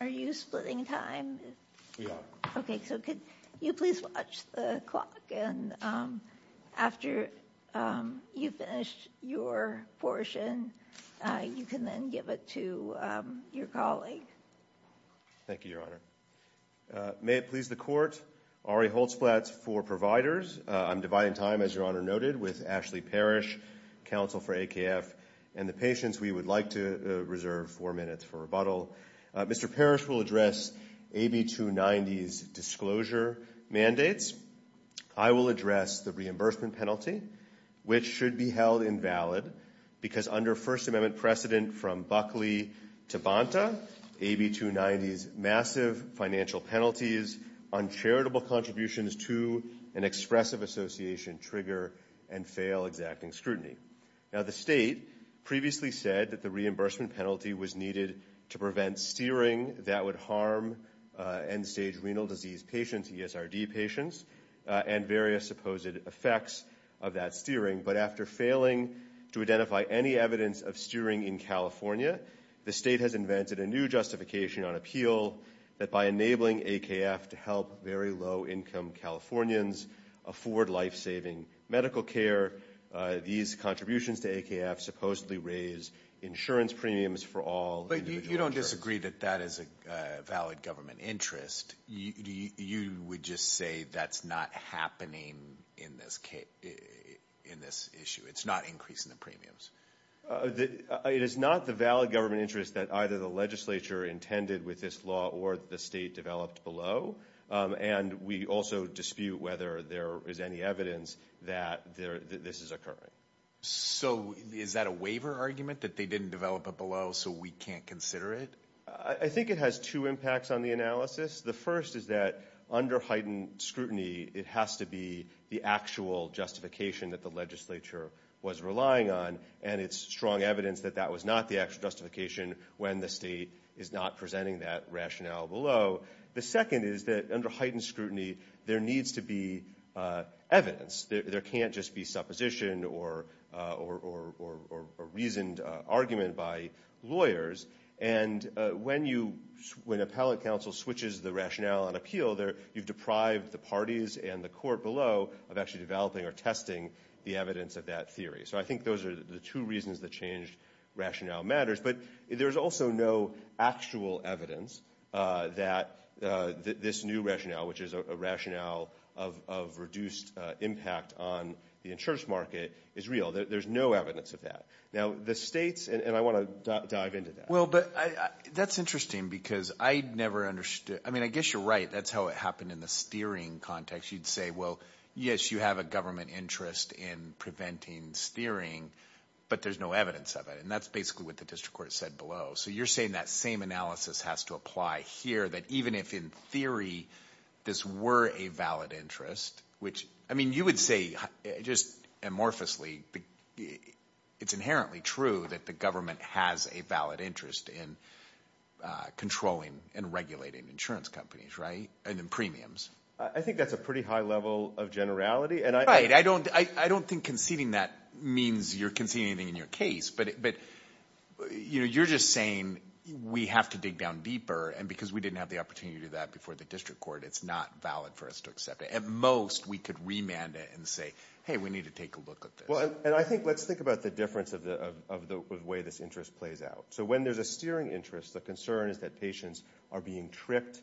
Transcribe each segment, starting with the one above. Are you splitting time? We are. Okay, so could you please watch the clock and after you finished your portion, you can then give it to your colleague. Thank you, Your Honor. May it please the Court, Ari Holzplatz for providers. I'm dividing time, as Your Honor noted, with Ashley Parrish, counsel for AKF, and the patients we would like to reserve four minutes for rebuttal. Mr. Parrish will address AB 290's disclosure mandates. I will address the reimbursement penalty, which should be held invalid because under First Amendment precedent from Buckley to Bonta, AB 290's massive financial penalties on charitable contributions to an expressive association trigger and fail exacting scrutiny. Now the state previously said that the reimbursement was needed to prevent steering that would harm end-stage renal disease patients, ESRD patients, and various supposed effects of that steering. But after failing to identify any evidence of steering in California, the state has invented a new justification on appeal that by enabling AKF to help very low-income Californians afford life-saving medical care, these contributions to AKF supposedly raise insurance premiums for all. But you don't disagree that that is a valid government interest. You would just say that's not happening in this issue, it's not increasing the premiums. It is not the valid government interest that either the legislature intended with this law or the state developed below, and we also dispute whether there is any that this is occurring. So is that a waiver argument that they didn't develop it below so we can't consider it? I think it has two impacts on the analysis. The first is that under heightened scrutiny it has to be the actual justification that the legislature was relying on, and it's strong evidence that that was not the actual justification when the state is not presenting that rationale below. The second is that under heightened scrutiny there needs to be evidence. There can't just be supposition or reasoned argument by lawyers. And when appellate counsel switches the rationale on appeal, you've deprived the parties and the court below of actually developing or testing the evidence of that theory. So I think those are the two reasons that changed rationale matters, but there's also no actual evidence that this new rationale, which is a rationale of reduced impact on the insurance market, is real. There's no evidence of that. Now the states, and I want to dive into that. Well, but that's interesting because I never understood, I mean, I guess you're right. That's how it happened in the steering context. You'd say, well, yes, you have a government interest in preventing steering, but there's no evidence of it. And that's basically what the district court said below. So you're saying that same analysis has to apply here, that even if in theory this were a valid interest, which, I mean, you would say just amorphously, it's inherently true that the government has a valid interest in controlling and regulating insurance companies, right? And then premiums. I think that's a pretty high level of generality. Right. I don't think conceding that means you're conceding anything in your case, but you're just saying we have to dig down deeper, and because we didn't have the opportunity to do that before the district court, it's not valid for us to accept it. At most, we could remand it and say, hey, we need to take a look at this. Well, and I think, let's think about the difference of the way this interest plays out. So when there's a steering interest, the concern is that patients are being tricked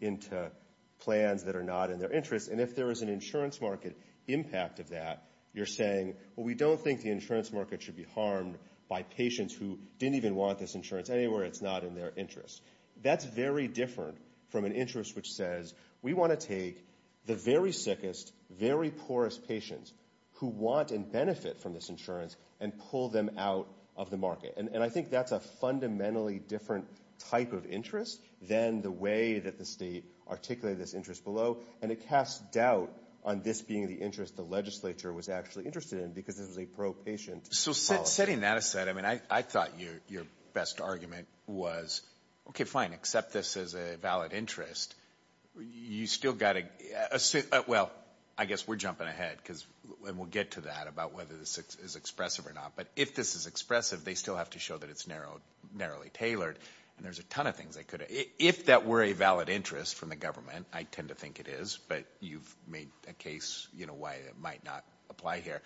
into plans that are not in their interest. And if there is an insurance market impact of that, you're saying, well, we don't think the insurance market should be harmed by patients who didn't even want this insurance anywhere. It's not in their interest. That's very different from an interest which says we want to take the very sickest, very poorest patients who want and benefit from this insurance and pull them out of the market. And I think that's a fundamentally different type of interest than the way that the state articulated this below, and it casts doubt on this being the interest the legislature was actually interested in because this was a pro-patient policy. So setting that aside, I mean, I thought your best argument was, okay, fine, accept this as a valid interest. You still got to, well, I guess we're jumping ahead, and we'll get to that about whether this is expressive or not. But if this is expressive, they still have to show that it's narrowly tailored, and there's a ton of things if that were a valid interest from the government, I tend to think it is, but you've made a case why it might not apply here.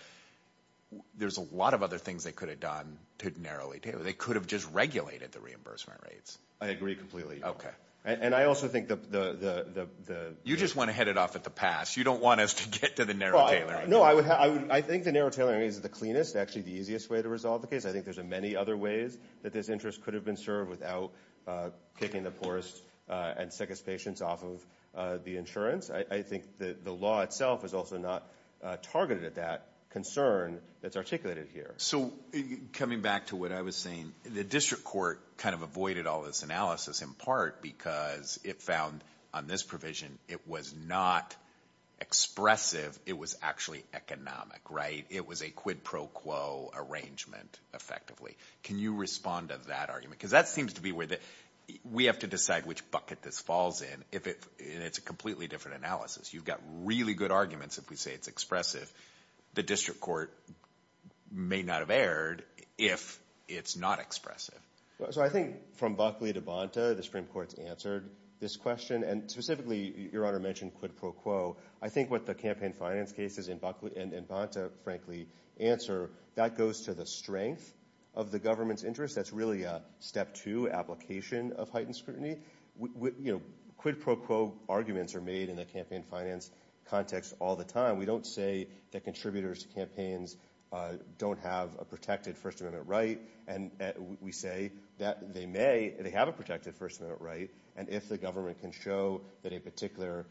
There's a lot of other things they could have done to narrowly tailor. They could have just regulated the reimbursement rates. I agree completely. Okay. And I also think You just want to head it off at the pass. You don't want us to get to the narrow tailoring. No, I think the narrow tailoring is the cleanest, actually the easiest way to resolve the case. I think there's many other ways that this interest could have been served without kicking the poorest and sickest patients off of the insurance. I think the law itself is also not targeted at that concern that's articulated here. So coming back to what I was saying, the district court kind of avoided all this analysis in part because it found on this provision it was not expressive. It was actually economic, right? It was a quid pro quo arrangement effectively. Can you respond to that argument? Because that seems to be where we have to decide which bucket this falls in, and it's a completely different analysis. You've got really good arguments if we say it's expressive. The district court may not have erred if it's not expressive. So I think from Buckley to Bonta, the Supreme Court's answered this question, and specifically, Your Honor mentioned quid pro quo. I think what the campaign finance cases in Bonta frankly answer, that goes to the strength of the government's interest. That's really a step two application of heightened scrutiny. Quid pro quo arguments are made in the campaign finance context all the time. We don't say that contributors to campaigns don't have a protected First Amendment right, and we say that they may, they have a protected First Amendment right, and if the government can show that a particular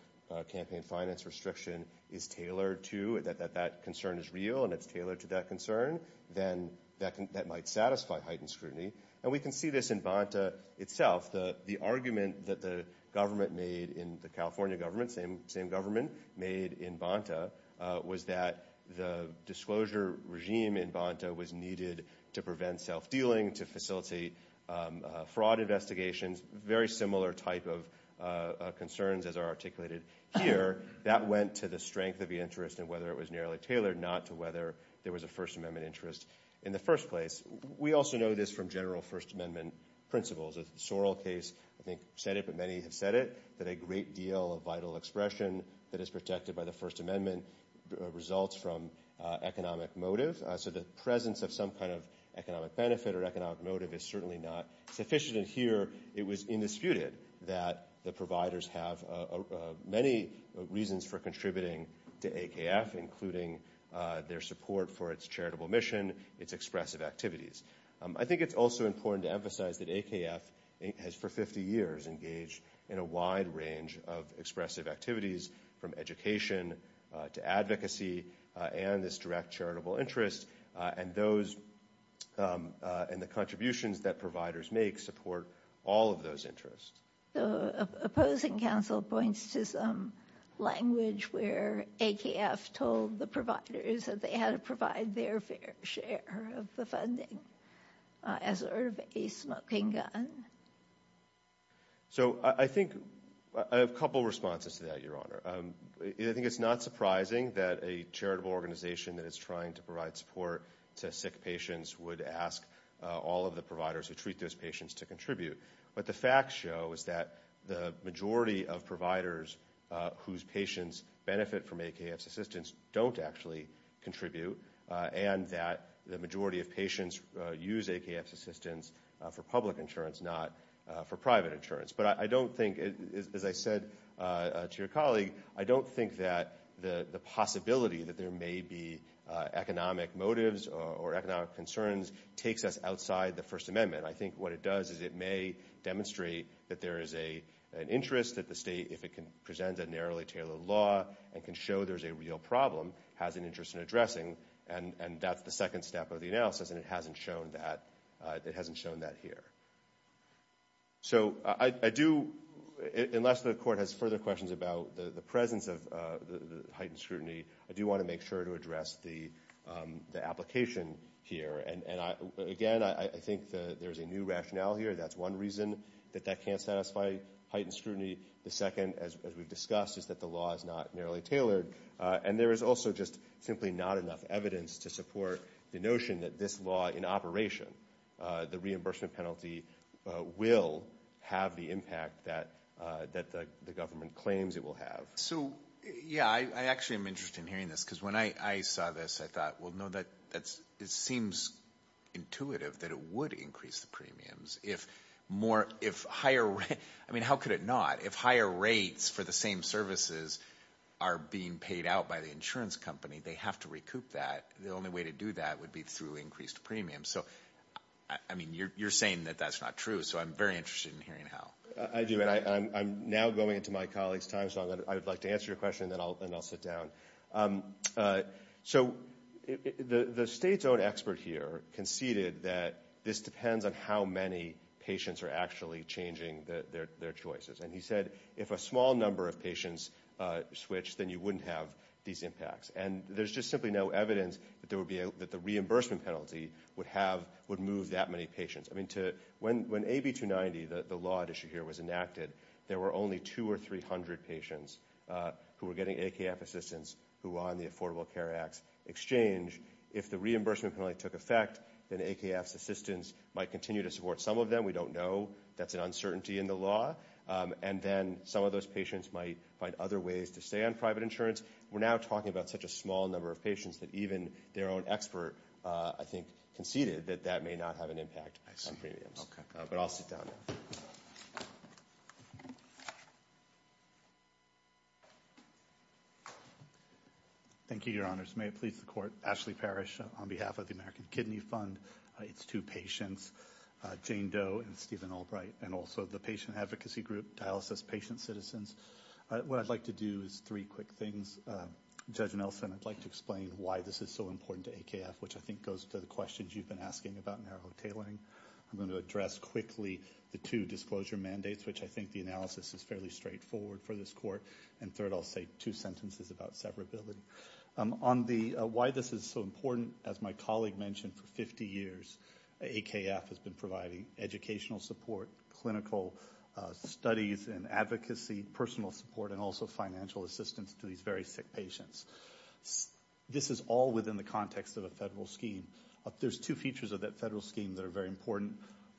campaign finance restriction is tailored to, that that concern is real and it's tailored to that concern, then that might satisfy heightened scrutiny, and we can see this in Bonta itself. The argument that the government made in the California government, same government made in Bonta, was that the disclosure regime in Bonta was needed to prevent self-dealing, to facilitate fraud investigations, very similar type of concerns as are articulated here. That went to the strength of the interest and whether it was narrowly tailored, not to whether there was a First Amendment interest in the first place. We also know this from general First Amendment principles. The Sorrell case, I think, said it, but many have said it, that a great deal of vital expression that is protected by the First Amendment results from economic motive, so the presence of some kind of economic benefit or economic motive is certainly not sufficient. Here, it was indisputed that the providers have many reasons for contributing to AKF, including their support for its charitable mission, its expressive activities. I think it's also important to emphasize that AKF has, for 50 years, engaged in a wide range of expressive activities, from education to advocacy and this direct charitable interest, and those and the contributions that providers make support all of those interests. The opposing counsel points to some language where AKF told the providers that they had to provide their fair share of the funding as part of a smoking gun. So, I think, I have a couple responses to that, Your Honor. I think it's not surprising that a charitable organization that is trying to provide support to sick patients would ask all of the providers who treat those patients to contribute. What the facts show is that the majority of providers whose patients benefit from AKF's assistance don't actually contribute, and that the majority of patients use AKF's assistance for public insurance, not for private insurance. But I don't think, as I said to your colleague, I don't think that the possibility that there may be economic motives or economic concerns takes us outside the First Amendment. I think what it does is it may demonstrate that there is an interest that the state, if it can present a narrowly tailored law and can show there's a real problem, has an interest in addressing, and that's the second step of the analysis, and it hasn't shown that here. So, I do, unless the Court has further questions about the presence of the heightened scrutiny, I do want to make sure to address the application here. And again, I think there's a new rationale here. That's one reason that that can't satisfy heightened scrutiny. The second, as we've discussed, is that the law is not narrowly tailored, and there is also just simply not enough evidence to support the notion that this law, in operation, the reimbursement penalty will have the impact that the government claims it will have. So, yeah, I actually am interested in hearing this, because when I saw this, I thought, well, no, that's, it seems intuitive that it would increase the premiums if more, if higher, I mean, how could it not? If higher rates for the same services are being paid out by the insurance company, they have to recoup that. The only way to do that would be through increased premiums. So, I mean, you're saying that that's not true, so I'm very interested in hearing how. I do, and I'm now going into my colleague's time, so I would like to answer your question, and then I'll sit down. So, the state's own expert here conceded that this depends on how many patients are actually changing their choices. And he said, if a small number of patients switch, then you wouldn't have these impacts. And there's just simply no evidence that there would be, that the reimbursement penalty would have, would move that many patients. I mean, to, when AB290, the law at issue here, was enacted, there were only two or 300 patients who were getting AKF assistance who were on the Affordable Care Act's exchange. If the reimbursement penalty took effect, then AKF's assistance might continue to support some of them. We don't know. That's an uncertainty in the law. And then some of those patients might find other ways to stay on private insurance. We're now talking about such a small number of patients that even their own expert, I think, conceded that that may not have an impact on premiums. But I'll sit down now. Thank you, Your Honors. May it please the Court, Ashley Parrish on behalf of the American Kidney Fund, its two patients, Jane Doe and Stephen Albright, and also the patient advocacy group, Dialysis Patient Citizens. What I'd like to do is three quick things. Judge Nelson, I'd like to explain why this is so important to AKF, which I think goes to the questions you've been asking about narrow tailoring. I'm going to address quickly the two disclosure mandates, which I think the analysis is fairly straightforward for this Court. And third, I'll say two sentences about severability. On the why this is so important, as my colleague mentioned, for 50 years, AKF has been providing educational support, clinical studies and advocacy, personal support, and also financial assistance to these very sick There's two features of that federal scheme that are very important.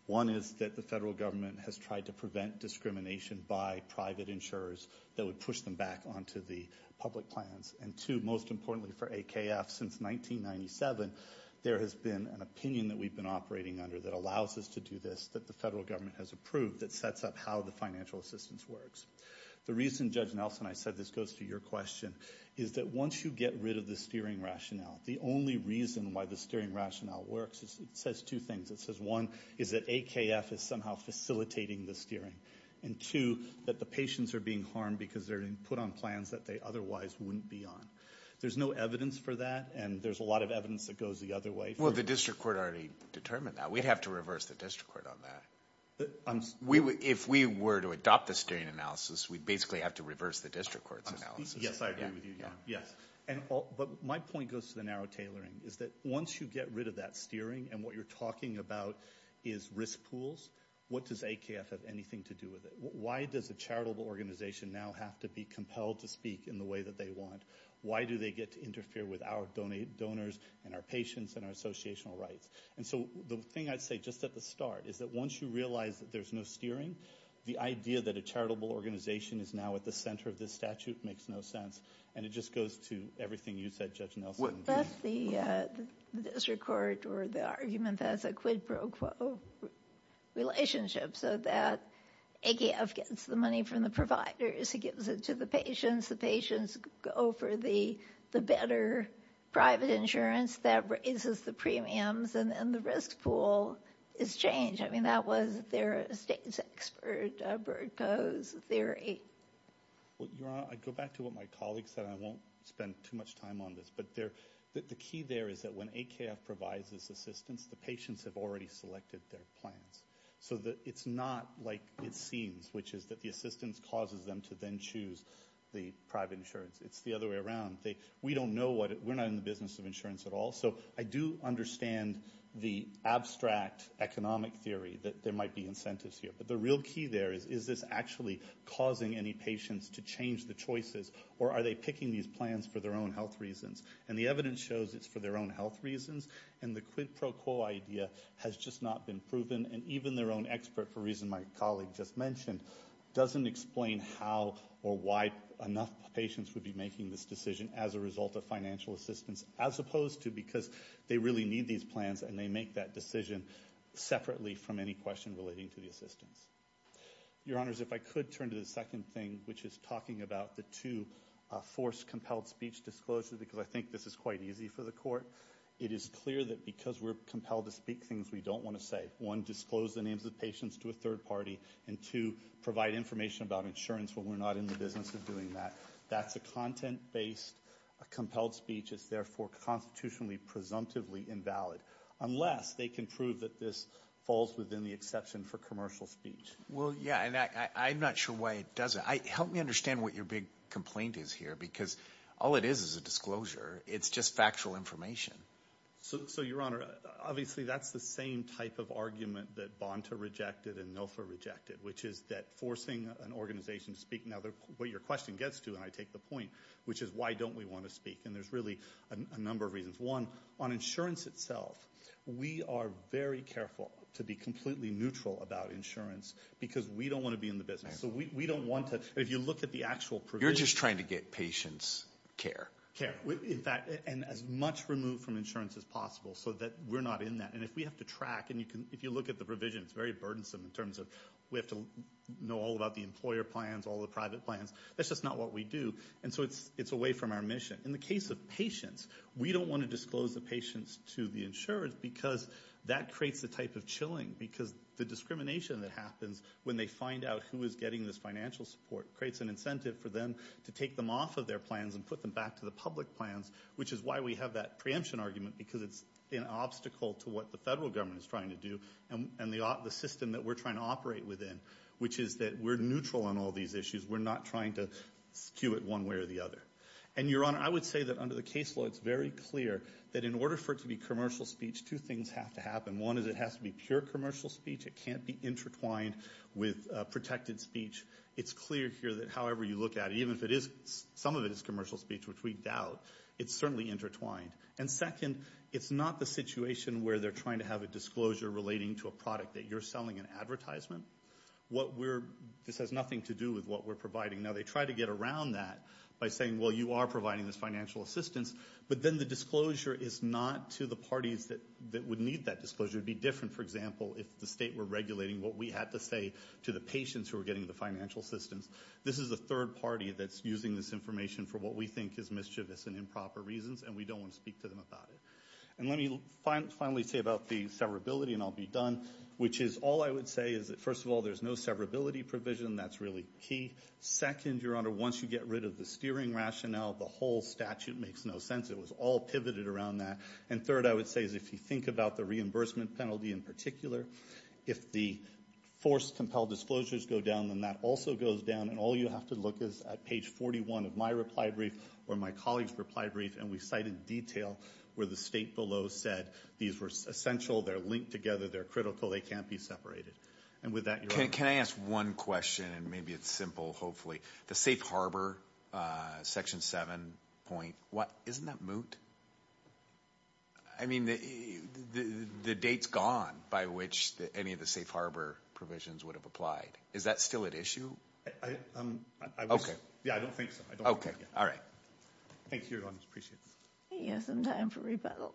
One is that the federal government has tried to prevent discrimination by private insurers that would push them back onto the public plans. And two, most importantly for AKF, since 1997, there has been an opinion that we've been operating under that allows us to do this, that the federal government has approved that sets up how the financial assistance works. The reason, Judge Nelson, I said this goes to your question, is that once you get rid of the steering rationale, the only reason why the steering rationale works, it says two things. It says one, is that AKF is somehow facilitating the steering. And two, that the patients are being harmed because they're being put on plans that they otherwise wouldn't be on. There's no evidence for that, and there's a lot of evidence that goes the other way. Well, the District Court already determined that. We'd have to reverse the District Court on that. If we were to adopt the steering analysis, we'd basically have to reverse the District Court's analysis. Yes, I agree with you, yes. But my point goes to the narrow tailoring, is that once you get rid of that steering, and what you're talking about is risk pools, what does AKF have anything to do with it? Why does a charitable organization now have to be compelled to speak in the way that they want? Why do they get to interfere with our donors and our patients and our associational rights? And so the thing I'd say just at the start is that once you realize that there's no steering, the idea that a charitable organization is now at the center of this statute makes no sense. And it just goes to everything you said, Judge Nelson. That's the District Court, or the argument, that's a quid pro quo relationship, so that AKF gets the money from the providers, it gives it to the patients, the patients go for the better private insurance that raises the premiums, and then the risk pool is changed. I mean, that was their expert theory. Well, Your Honor, I go back to what my colleague said. I won't spend too much time on this, but the key there is that when AKF provides this assistance, the patients have already selected their plans. So it's not like it seems, which is that the assistance causes them to then choose the private insurance. It's the other way around. We don't know what, we're not in the business of insurance at all, so I do understand the abstract economic theory that there might be incentives here, but the real key there is, is this actually causing any patients to change the choices, or are they picking these plans for their own health reasons? And the evidence shows it's for their own health reasons, and the quid pro quo idea has just not been proven, and even their own expert, for reason my colleague just mentioned, doesn't explain how or why enough patients would be making this decision as a result of financial assistance, as opposed to because they really need these plans and they make that decision separately from any question relating to the assistance. Your Honors, if I could turn to the second thing, which is talking about the two forced compelled speech disclosures, because I think this is quite easy for the Court. It is clear that because we're compelled to speak things we don't want to say, one, disclose the names of patients to a third party, and two, provide information about insurance when we're not in the business of doing that. That's a content-based, a compelled speech is therefore constitutionally, presumptively invalid, unless they can prove that this falls within the exception for commercial speech. Well, yeah, and I'm not sure why it doesn't. Help me understand what your big complaint is here, because all it is is a disclosure. It's just factual information. So, Your Honor, obviously that's the same type of argument that Bonta rejected and NILFA rejected, which is that forcing an organization to speak, now what your question gets to, and I take the point, which is why don't we want to speak, and there's really a number of reasons. One, on insurance itself, we are very careful to be completely neutral about insurance, because we don't want to be in the business, so we don't want to, if you look at the actual provision. You're just trying to get patients care. Care, in fact, and as much removed from insurance as possible, so that we're not in that, and if we have to track, and you can, if you look at the provision, it's very burdensome in terms of, we have to know all about the employer plans, all the private plans, that's just not what we do, and so it's away from our mission. In the case of patients, we don't want to disclose the patients to the insurers, because that creates a type of chilling, because the discrimination that happens when they find out who is getting this financial support, creates an incentive for them to take them off of their plans and put them back to the public plans, which is why we have that preemption argument, because it's an obstacle to what the federal government is trying to do, and the system that we're trying to operate within, which is that we're neutral on all these issues. We're not trying to skew it one way or the other, and your honor, I would say that under the case law, it's very clear that in order for it to be commercial speech, two things have to happen. One is, it has to be pure commercial speech. It can't be intertwined with protected speech. It's clear here that however you look at it, even if it is, some of it is commercial speech, which we doubt, it's certainly intertwined, and second, it's not the situation where they're trying to have a disclosure relating to a product that you're selling an advertisement. What we're, this has nothing to do with what we're providing. Now, they try to get around that by saying, well, you are providing this financial assistance, but then the disclosure is not to the parties that would need that disclosure. It would be different, for example, if the state were regulating what we had to say to the patients who were getting the financial assistance. This is a third party that's using this information for what we think is mischievous and improper reasons, and we don't want to speak to them about it, and let me finally say about the severability, and I'll be done, which is all I would say is that there's no severability provision. That's really key. Second, Your Honor, once you get rid of the steering rationale, the whole statute makes no sense. It was all pivoted around that, and third, I would say is if you think about the reimbursement penalty in particular, if the forced compelled disclosures go down, then that also goes down, and all you have to look is at page 41 of my reply brief or my colleague's reply brief, and we cite in detail where the state below said these were essential, they're linked together, they're critical, they can't be separated, and with that, Your Honor. Can I ask one question, and maybe it's simple, hopefully. The safe harbor section 7 point, what, isn't that moot? I mean, the date's gone by which any of the safe harbor provisions would have applied. Is that still at issue? Okay. Yeah, I don't think so. Okay, all right. Thank you, Your Honor. Appreciate it. He has some time for rebuttal.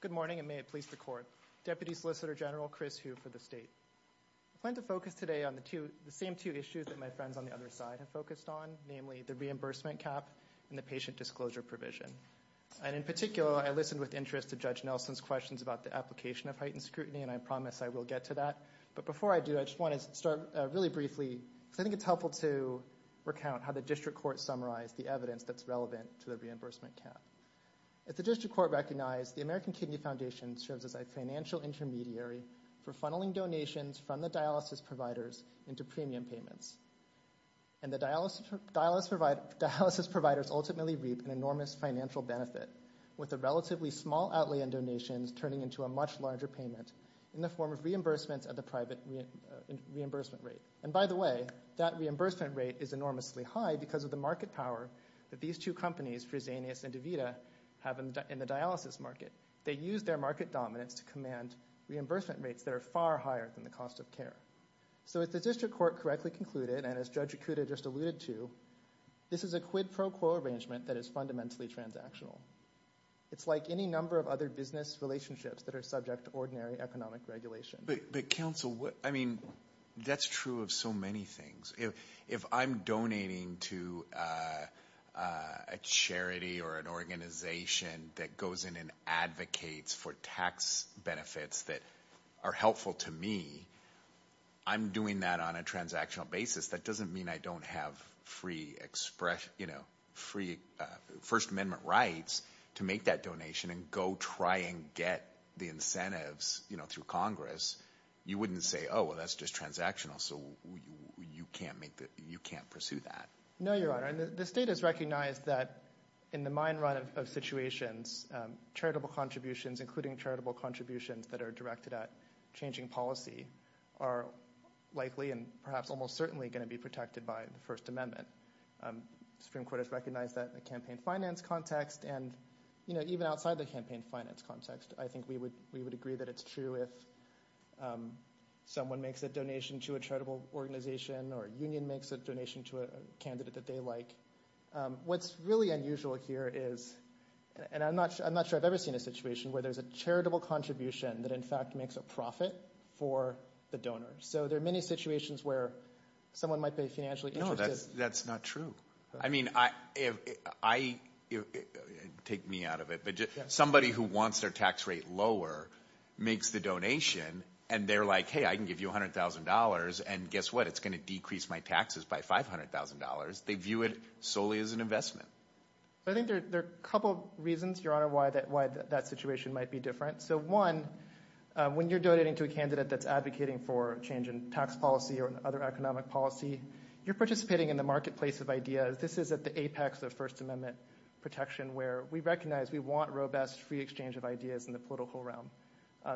Good morning, and may it please the Court. Deputy Solicitor General Chris Hu for the state. I plan to focus today on the same two issues that my friends on the other side have focused on, namely the reimbursement cap and the patient disclosure provision, and in particular, I listened with interest to Judge Nelson's questions about the application of heightened but before I do, I just want to start really briefly, because I think it's helpful to recount how the District Court summarized the evidence that's relevant to the reimbursement cap. As the District Court recognized, the American Kidney Foundation serves as a financial intermediary for funneling donations from the dialysis providers into premium payments, and the dialysis providers ultimately reap an enormous financial benefit, with a relatively small outlay in donations turning into a much larger payment in the form of reimbursements at the private reimbursement rate. And by the way, that reimbursement rate is enormously high because of the market power that these two companies, Fresenius and DeVita, have in the dialysis market. They use their market dominance to command reimbursement rates that are far higher than the cost of care. So if the District Court correctly concluded, and as Judge Ikuda just alluded to, this is a quid pro quo arrangement that is fundamentally transactional. It's like any number of other business relationships that are subject to ordinary economic regulation. But counsel, I mean, that's true of so many things. If I'm donating to a charity or an organization that goes in and advocates for tax benefits that are helpful to me, I'm doing that on a transactional basis. That doesn't mean I don't have free expression, you know, free First Amendment rights to make that donation and go try and get the incentives, you know, through Congress. You wouldn't say, oh, well, that's just transactional. So you can't make the, you can't pursue that. No, Your Honor. The state has recognized that in the mine run of situations, charitable contributions, including charitable contributions that are directed at changing policy, are likely and perhaps almost certainly going to be protected by the First Amendment. Supreme Court has recognized that in the campaign finance context and, you know, even outside the campaign finance context, I think we would agree that it's true if someone makes a donation to a charitable organization or a union makes a donation to a candidate that they like. What's really unusual here is, and I'm not sure I've ever seen a situation where there's a charitable contribution that in fact makes a profit for the donor. So there are many situations where someone might be financially interested. No, that's not true. I mean, take me out of it, but somebody who wants their tax rate lower makes the donation and they're like, hey, I can give you $100,000 and guess what? It's going to decrease my taxes by $500,000. They view it solely as an investment. I think there are a couple reasons, Your Honor, why that situation might be different. So one, when you're donating to a candidate that's advocating for change in tax policy or other economic policy, you're participating in the marketplace of ideas. This is at the apex of First Amendment protection where we recognize we want robust free exchange of ideas in the political realm.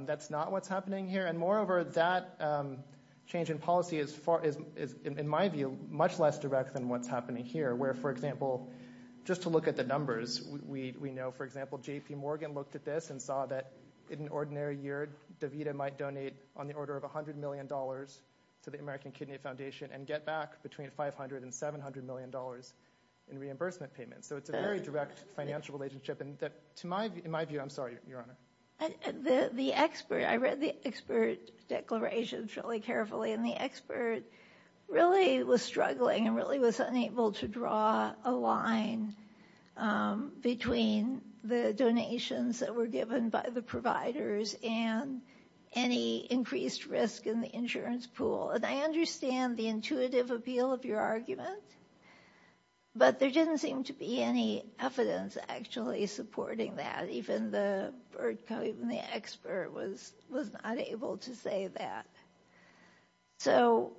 That's not what's happening here. And moreover, that change in policy is, in my view, much less direct than what's happening here, where, for example, just to look at the numbers, we know, for example, J.P. Morgan looked at this and saw that in an ordinary year, DeVita might donate on the order of $100 million to the American Kidney Foundation and get back between $500 and $700 million in reimbursement payments. So it's a very direct financial relationship. In my view, I'm sorry, Your Honor. The expert, I read the expert declarations really carefully, and the expert really was struggling and really was unable to draw a line between the donations that were given by the providers and any increased risk in the insurance pool. And I understand the intuitive appeal of your argument, but there didn't seem to be any evidence actually supporting that. Even the expert was not able to say that. So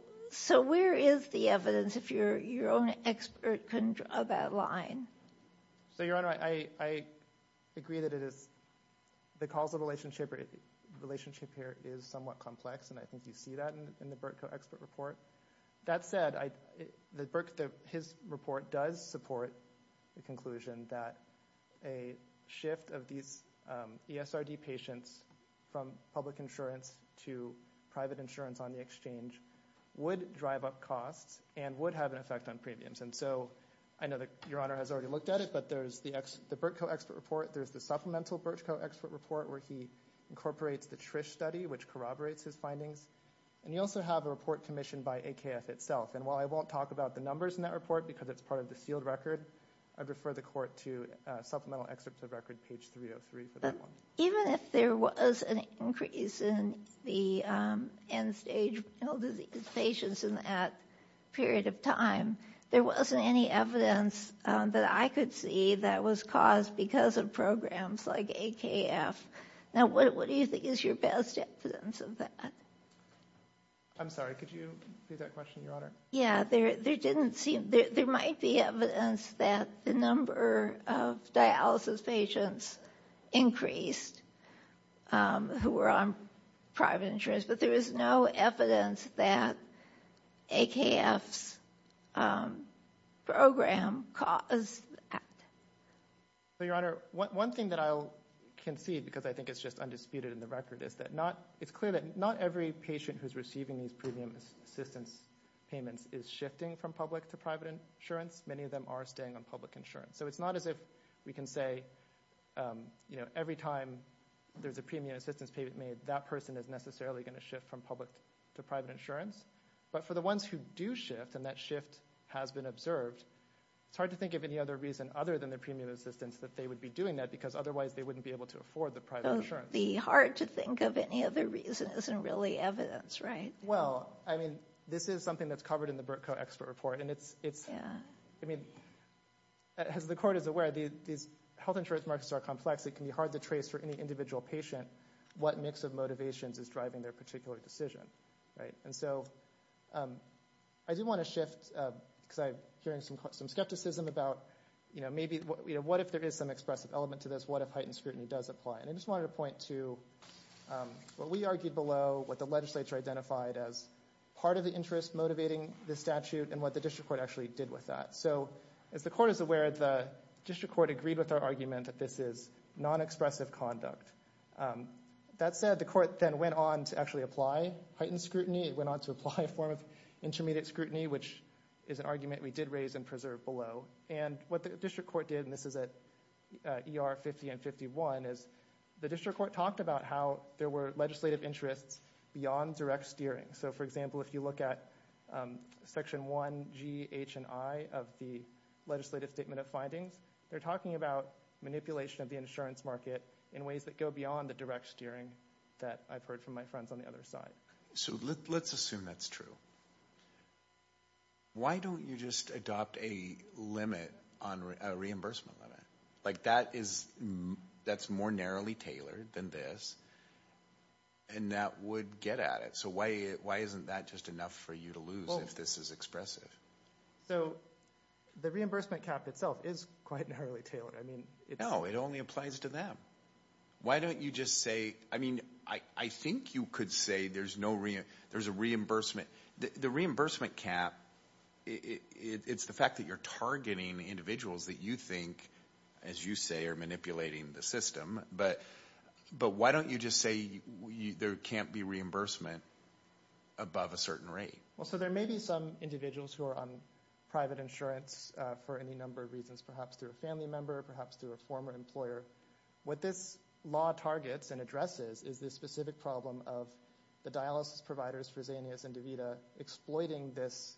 where is the evidence if your own expert couldn't draw that line? So, Your Honor, I agree that the causal relationship here is somewhat complex, and I think you see that in the Burtko expert report. That said, his report does support the conclusion that a shift of these ESRD patients from public insurance to private insurance on the exchange would drive up costs and would have an effect on premiums. And so I know that Your Honor has already looked at it, but there's the Burtko expert report. There's the supplemental Burtko expert report where he incorporates the Trish study, which corroborates his findings. And you also have a report commissioned by AKF itself. And while I won't talk about the numbers in that record, I'd refer the Court to supplemental excerpt of record page 303 for that one. Even if there was an increase in the end-stage mental disease patients in that period of time, there wasn't any evidence that I could see that was caused because of programs like AKF. Now, what do you think is your best evidence of that? I'm sorry, could you repeat that question, Your Honor? Yeah, there might be evidence that the number of dialysis patients increased who were on private insurance, but there is no evidence that AKF's program caused that. So Your Honor, one thing that I can see, because I think it's just undisputed in the record, it's clear that not every patient who's receiving these premium assistance payments is shifting from public to private insurance. Many of them are staying on public insurance. So it's not as if we can say every time there's a premium assistance payment made, that person is necessarily going to shift from public to private insurance. But for the ones who do shift, and that shift has been observed, it's hard to think of any other reason other than the premium assistance that they would be doing that, because otherwise they wouldn't be able to afford the private insurance. The hard to think of any other reason isn't really evidence, right? Well, I mean, this is something that's covered in the Burtko Expert Report, and it's, I mean, as the Court is aware, these health insurance markets are complex. It can be hard to trace for any individual patient what mix of motivations is driving their particular decision, right? And so I do want to shift, because I'm hearing some skepticism about, you know, maybe, what if there is some expressive element to this? What if heightened scrutiny does apply? And I just wanted to point to what we argued below, what the legislature identified as part of the interest motivating the statute, and what the District Court actually did with that. So as the Court is aware, the District Court agreed with our argument that this is non-expressive conduct. That said, the Court then went on to actually apply heightened scrutiny. It went on to apply a form of intermediate scrutiny, which is an argument we did raise and preserve below. And what the District Court did, and this is at ER 50 and 51, is the District Court talked about how there were legislative interests beyond direct steering. So, for example, if you look at Section 1G, H, and I of the Legislative Statement of Findings, they're talking about manipulation of the insurance market in ways that go beyond the direct steering that I've heard from my friends on the other side. So let's assume that's true. Why don't you just adopt a limit, a reimbursement limit? Like that's more narrowly tailored than this, and that would get at it. So why isn't that just enough for you to lose if this is expressive? So, the reimbursement cap itself is quite narrowly tailored. I mean, it's... No, it only applies to them. Why don't you just say, I mean, I think you could say there's a reimbursement... The reimbursement cap, it's the fact that you're targeting individuals that you think, as you say, are manipulating the system. But why don't you just say there can't be reimbursement above a certain rate? Well, so there may be some individuals who are on private insurance for any number of reasons, perhaps through a family member, perhaps through a former employer. What this law targets and addresses is this specific problem of the dialysis providers, Fresenius and DeVita, exploiting this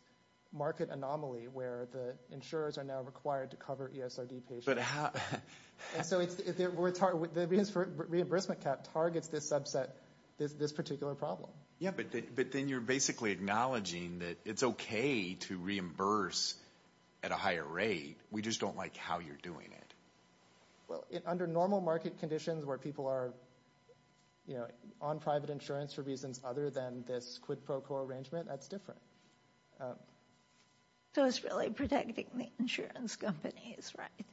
market anomaly where the insurers are now required to cover ESRD patients. And so the reimbursement cap targets this subset, this particular problem. Yeah, but then you're basically acknowledging that it's okay to reimburse at a higher rate, we just don't like how you're doing it. Well, under normal market conditions where people are on private insurance for reasons other than this quid pro quo arrangement, that's different. So it's really protecting the insurance companies, right?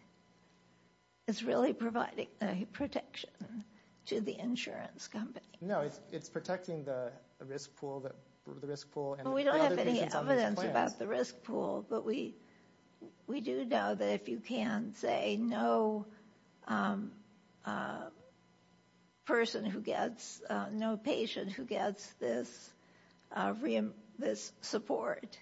It's really providing a protection to the insurance company. No, it's protecting the risk pool, the risk pool... We don't have any evidence about the risk pool, but we do know that if you can say no person who gets, no patient who gets this support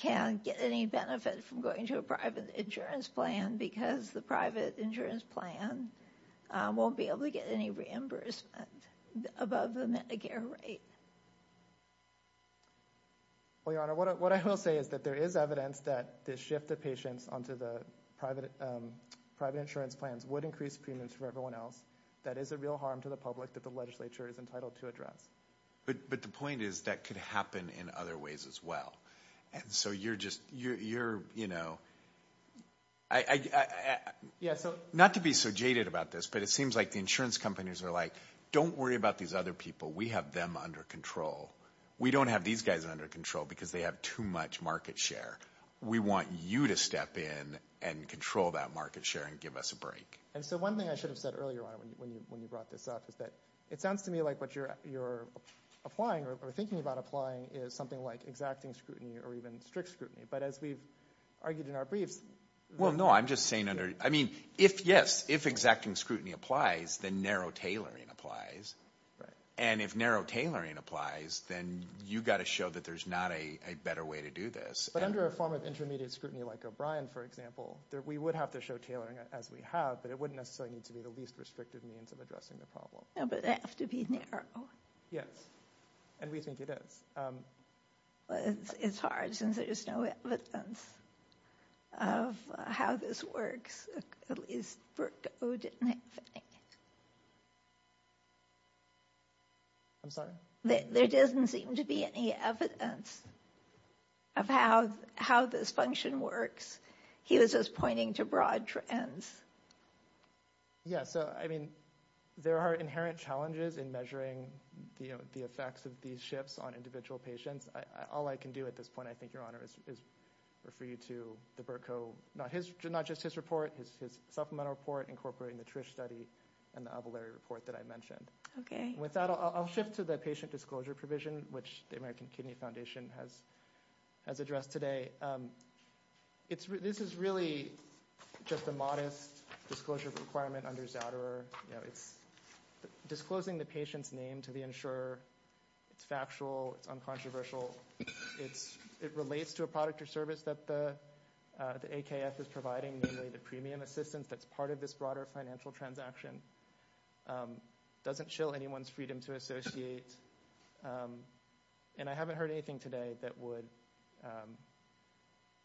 can get any benefit from going to a private insurance plan because the private insurance plan won't be able to get any reimbursement above the Medicare rate. Well, your honor, what I will say is that there is evidence that this shift of patients onto the private insurance plans would increase premiums for everyone else. That is a real harm to the public that the legislature is entitled to address. But the point is that could happen in other ways as well. And so you're just, you're, you know... Not to be so jaded about this, but it seems like the insurance companies are like, don't worry about these other people. We have them under control. We don't have these guys under control because they have too much market share. We want you to step in and control that market share and give us a break. And so one thing I should have said earlier on when you brought this up is that it sounds to me like what you're applying or thinking about applying is something like exacting scrutiny or even strict scrutiny. But as we've argued in our briefs... No, I'm just saying under, I mean, if yes, if exacting scrutiny applies, then narrow tailoring applies. And if narrow tailoring applies, then you got to show that there's not a better way to do this. But under a form of intermediate scrutiny like O'Brien, for example, we would have to show tailoring as we have, but it wouldn't necessarily need to be the least restrictive means of addressing the problem. No, but it has to be narrow. Yes. And we think it is. Well, it's hard since there is no evidence of how this works. At least, Berkow didn't have any. I'm sorry? There doesn't seem to be any evidence of how this function works. He was just pointing to broad trends. Yeah. So, I mean, there are inherent challenges in measuring the effects of these shifts on individual patients. All I can do at this point, I think, Your Honor, is refer you to the Berkow, not just his report, his supplemental report incorporating the Trish study and the Avalere report that I mentioned. Okay. With that, I'll shift to the patient disclosure provision, which the American Kidney Foundation has addressed today. This is really just a modest disclosure requirement under Zouderer. It's disclosing the patient's name to the insurer. It's factual. It's uncontroversial. It relates to a product or service that the AKF is providing, namely the premium assistance that's part of this broader financial transaction. It doesn't shill anyone's freedom to associate. And I haven't heard anything today that would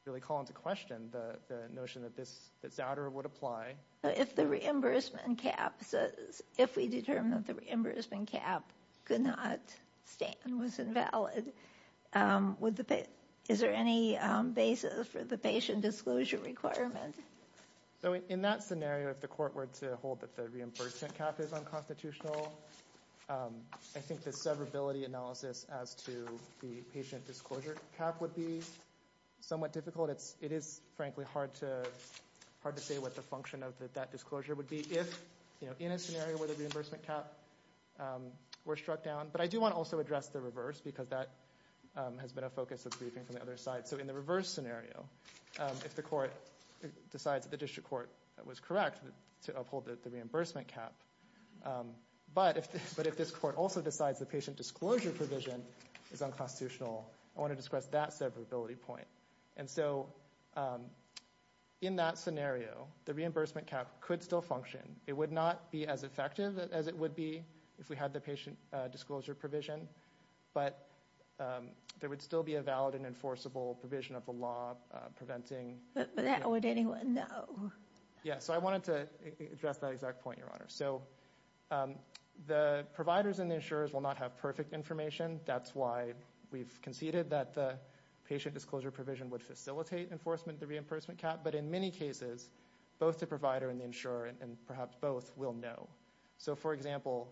really call into question the notion that Zouderer would apply. If the reimbursement cap says, if we determine that the reimbursement cap could not stand, was invalid, is there any basis for the patient disclosure requirement? So, in that scenario, if the court were to hold that the reimbursement cap is unconstitutional, I think the severability analysis as to the patient disclosure cap would be somewhat difficult. It is, frankly, hard to say what the function of that disclosure would be if, you know, in a scenario where the reimbursement cap were struck down. But I do want to also address the reverse, because that has been a focus of the briefing from the other side. So, in the reverse scenario, if the court decides that the district court was correct to uphold the reimbursement cap, but if this court also decides the patient disclosure provision is unconstitutional, I want to discuss that severability point. And so, in that scenario, the reimbursement cap could still function. It would not be as effective as it would be if we had the patient disclosure provision, but there would still be a valid and enforceable provision of the law preventing... But that would anyone know? Yeah. So, I wanted to address that exact point, Your Honor. So, the providers and the insurers will not have perfect information. That's why we've conceded that the patient disclosure provision would facilitate enforcement of the reimbursement cap, but in many cases, both the provider and the insurer, and perhaps both, will know. So, for example,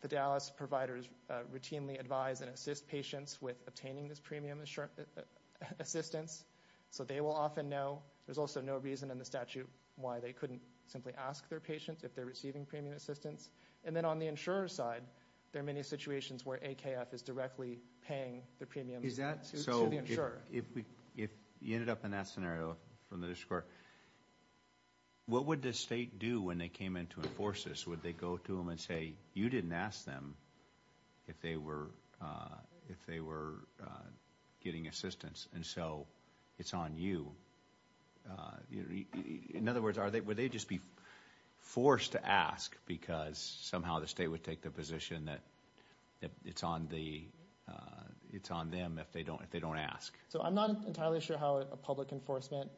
the Dallas providers routinely advise and assist patients with obtaining this premium assistance, so they will often know. There's also no reason in the statute why they simply ask their patients if they're receiving premium assistance. And then, on the insurer's side, there are many situations where AKF is directly paying the premium to the insurer. So, if you ended up in that scenario from the district court, what would the state do when they came in to enforce this? Would they go to them and say, you didn't ask them if they were getting assistance, and so it's on you? In other words, would they just be forced to ask because somehow the state would take the position that it's on them if they don't ask? So, I'm not entirely sure how a public enforcement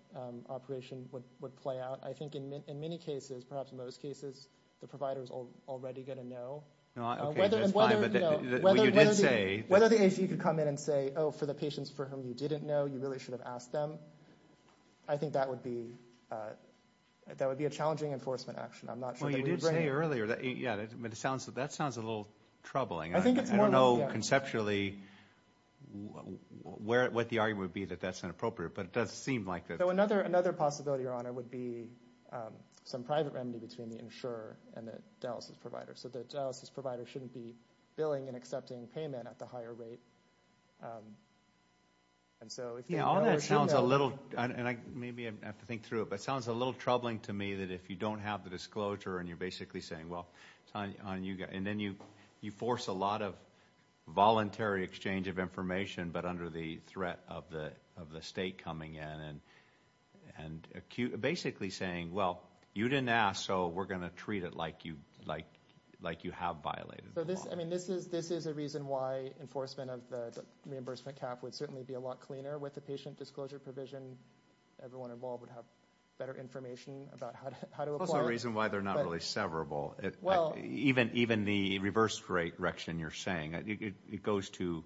operation would play out. I think in many cases, perhaps most cases, the provider's already going to know. Okay, that's fine. But you did say... Whether the agency could come in and say, oh, for the patients for whom you didn't know, you really should have asked them, I think that would be a challenging enforcement action. I'm not sure that we would bring... Well, you did say earlier, yeah, that sounds a little troubling. I don't know conceptually what the argument would be that that's inappropriate, but it does seem like it. So, another possibility, Your Honor, would be some private remedy between the insurer and the Dallas's provider. So, the Dallas's provider shouldn't be billing and accepting payment at the higher rate. And so... Yeah, all that sounds a little... And maybe I have to think through it, but it sounds a little troubling to me that if you don't have the disclosure and you're basically saying, well, it's on you, and then you force a lot of voluntary exchange of information, but under the threat of the state coming in and basically saying, well, you didn't ask, we're going to treat it like you have violated the law. I mean, this is a reason why enforcement of the reimbursement cap would certainly be a lot cleaner with the patient disclosure provision. Everyone involved would have better information about how to apply it. It's also a reason why they're not really severable. Even the reverse direction you're saying, it goes to...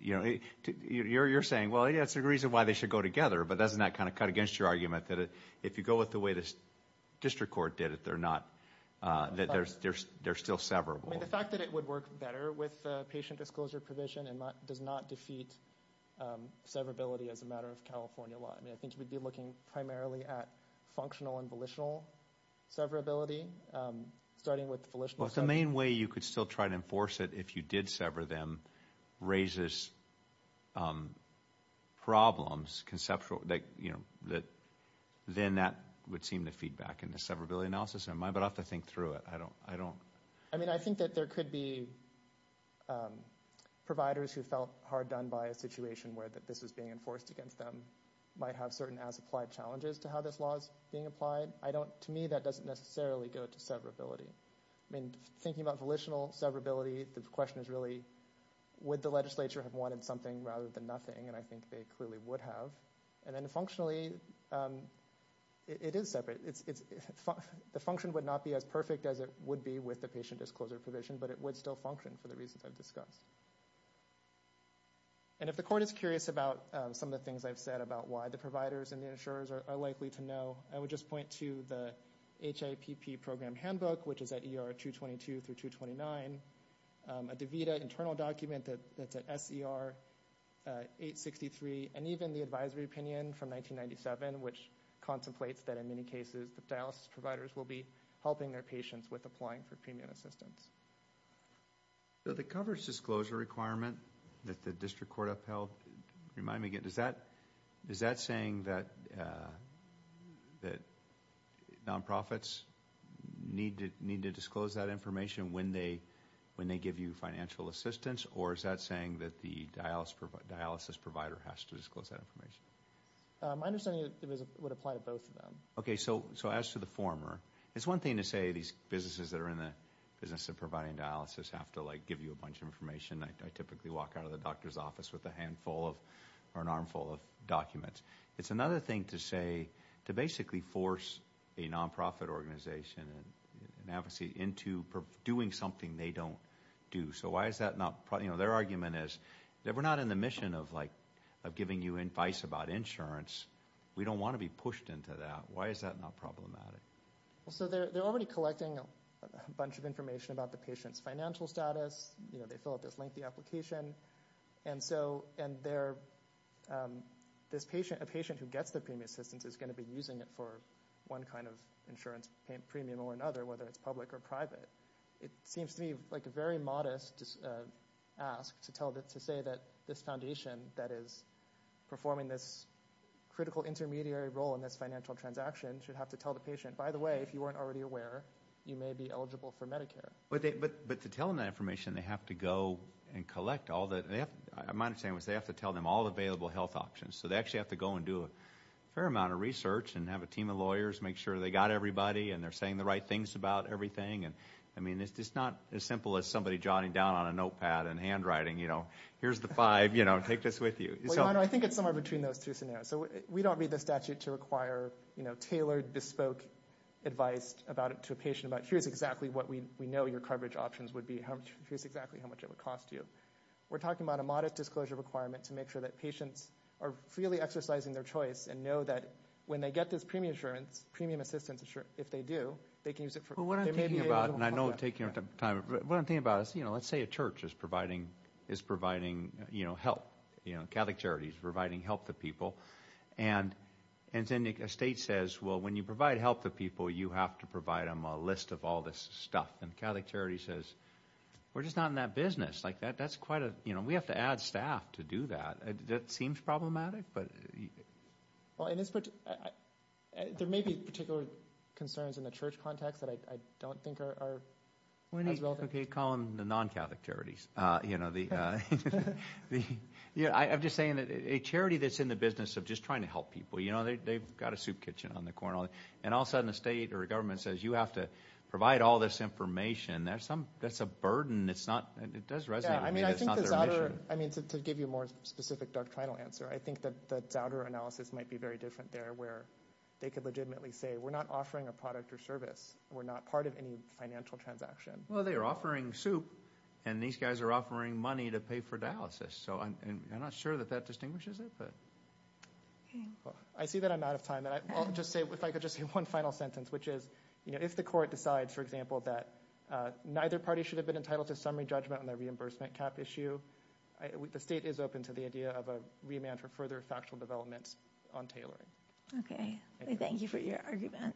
You're saying, well, yeah, it's a reason why they should go together, but doesn't that kind of cut against your argument that if you go with the way the district court did it, they're still severable? The fact that it would work better with the patient disclosure provision does not defeat severability as a matter of California law. I mean, I think we'd be looking primarily at functional and volitional severability, starting with volitional severability. But the main way you could still try to enforce it if you did sever them raises problems, conceptual... Then that would seem to feed back into severability analysis, but I'll have to think through it. I don't... I mean, I think that there could be providers who felt hard done by a situation where this was being enforced against them might have certain as-applied challenges to how this law is being applied. To me, that doesn't necessarily go to severability. I mean, thinking about volitional severability, the question is really, would the legislature have wanted something rather than nothing? And I think they clearly would have. And then functionally, it is separate. The function would not be as perfect as it would be with the patient disclosure provision, but it would still function for the reasons I've discussed. And if the court is curious about some of the things I've said about why the providers and the insurers are likely to know, I would just point to the HIPP program handbook, which is at ER 222 through 229, a DaVita internal document that's at SER 863, and even the advisory opinion from 1997, which contemplates that in many cases, the dialysis providers will be helping their patients with applying for premium assistance. So the coverage disclosure requirement that the district court upheld, remind me again, is that saying that nonprofits need to disclose that information when they give you financial assistance, or is that saying that the dialysis provider has to disclose that information? My understanding is it would apply to both of them. Okay, so as to the former, it's one thing to say these businesses that are in the business of providing dialysis have to give you a bunch of information. I typically walk out of the doctor's office with a handful of, or an armful of documents. It's another thing to say, to basically force a nonprofit organization and advocacy into doing something they don't do. So why is that not, you know, their argument is that we're not in the mission of like, of giving you advice about insurance. We don't want to be pushed into that. Why is that not problematic? Well, so they're already collecting a bunch of information about the patient's financial status. You know, they fill out this lengthy application. And so, and they're, this patient, a patient who gets the premium assistance is going to be using it for one kind of insurance premium or another, whether it's public or private. It seems to me like a very modest ask to tell that, to say that this foundation that is performing this critical intermediary role in this financial transaction should have to tell the patient, by the way, if you weren't already aware, you may be eligible for Medicare. But to tell them that information, they have to go and collect all that. My understanding was they have to tell them all available health options. So they actually have to go and do a fair amount of research and have a team of lawyers, make sure they got everybody. And they're saying the right things about everything. And I mean, it's just not as simple as somebody jotting down on a notepad and handwriting, you know, here's the five, you know, take this with you. I think it's somewhere between those two scenarios. So we don't read the statute to require, you know, tailored bespoke advice about it to a patient about here's exactly what we know your coverage options would be. Here's exactly how much it would cost you. We're talking about a modest disclosure requirement to make sure that patients are freely exercising their choice and know that when they get this premium assurance, premium assistance, if they do, they can use it for... Well, what I'm thinking about, and I know I'm taking up time, but what I'm thinking about is, you know, let's say a church is providing, you know, help, you know, and then a state says, well, when you provide help to people, you have to provide them a list of all this stuff. And Catholic Charities says, we're just not in that business. Like that's quite a, you know, we have to add staff to do that. That seems problematic, but... Well, and there may be particular concerns in the church context that I don't think are as relevant. Okay, call them the non-Catholic Charities. You know, I'm just saying that a charity that's in the business of just trying to help people, you know, they've got a soup kitchen on the corner, and all of a sudden, a state or a government says, you have to provide all this information. That's a burden. It's not, it does resonate. I mean, to give you a more specific doctrinal answer, I think that Zouder analysis might be very different there, where they could legitimately say, we're not offering a product or service. We're not part of any financial transaction. Well, they are offering soup, and these guys are offering money to pay for dialysis. So I'm not sure that that distinguishes it, but... I see that I'm out of time, and I'll just say, if I could just say one final sentence, which is, you know, if the court decides, for example, that neither party should have been entitled to summary judgment on the reimbursement cap issue, the state is open to the idea of a remand for further factual developments on tailoring. Okay, thank you for your argument.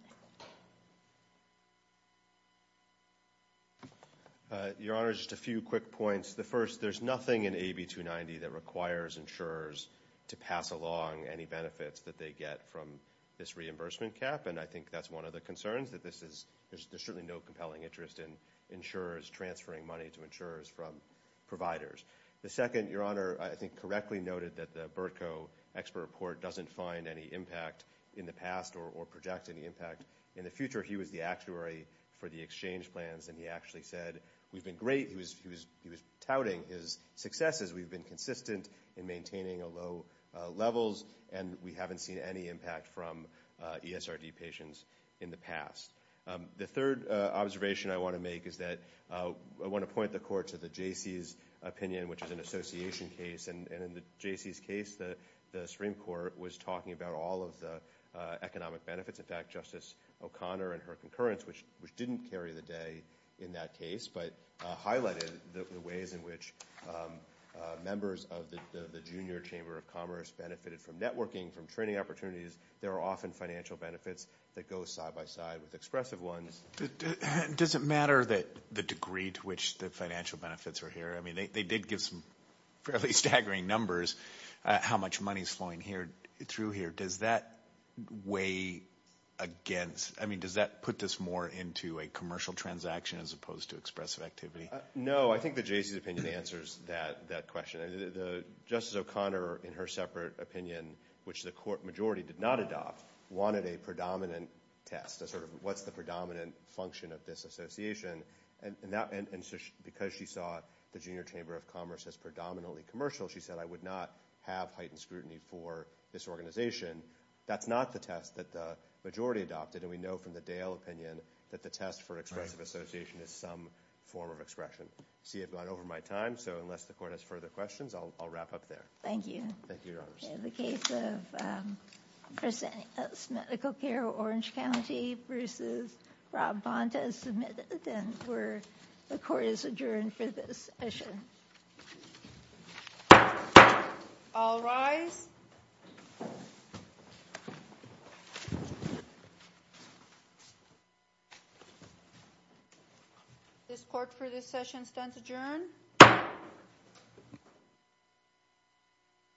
Your Honor, just a few quick points. The first, there's nothing in AB290 that requires insurers to pass along any benefits that they get from this reimbursement cap, and I think that's one of the concerns, that this is, there's certainly no compelling interest in insurers transferring money to insurers from providers. The second, Your Honor, I think correctly noted that the Burtko expert report doesn't find any impact in the past or project any impact in the future. He was the actuary for the exchange plans, and he actually said, we've been great. He was touting his successes. We've been consistent in maintaining low levels, and we haven't seen any impact from ESRD patients in the past. The third observation I want to make is that I want to point the Court to the J.C.'s opinion, which is an association case, and in the J.C.'s case, the Supreme Court was talking about all of the economic benefits. In fact, Justice O'Connor and her concurrence, which didn't carry the day in that case, but highlighted the ways in which members of the Junior Chamber of Commerce benefited from networking, from training opportunities. There are often financial benefits that go side by side with expressive ones. Does it matter the degree to which the financial benefits are here? I mean, they did give some fairly staggering numbers, how much money is flowing through here. Does that weigh against, I mean, does that put this more into a commercial transaction as opposed to expressive activity? No, I think the J.C.'s opinion answers that question. Justice O'Connor, in her separate opinion, which the Court majority did not adopt, wanted a predominant test as sort of what's the predominant function of this association. And because she saw the Junior Chamber of Commerce as predominantly commercial, she said, I would not have heightened scrutiny for this organization. That's not the test that the majority adopted, and we know from the Dale opinion that the test for expressive association is some form of expression. See, I've gone over my time, so unless the Court has further questions, I'll wrap up there. Thank you. Thank you, Bruce. All rise. This Court for this session stands adjourned.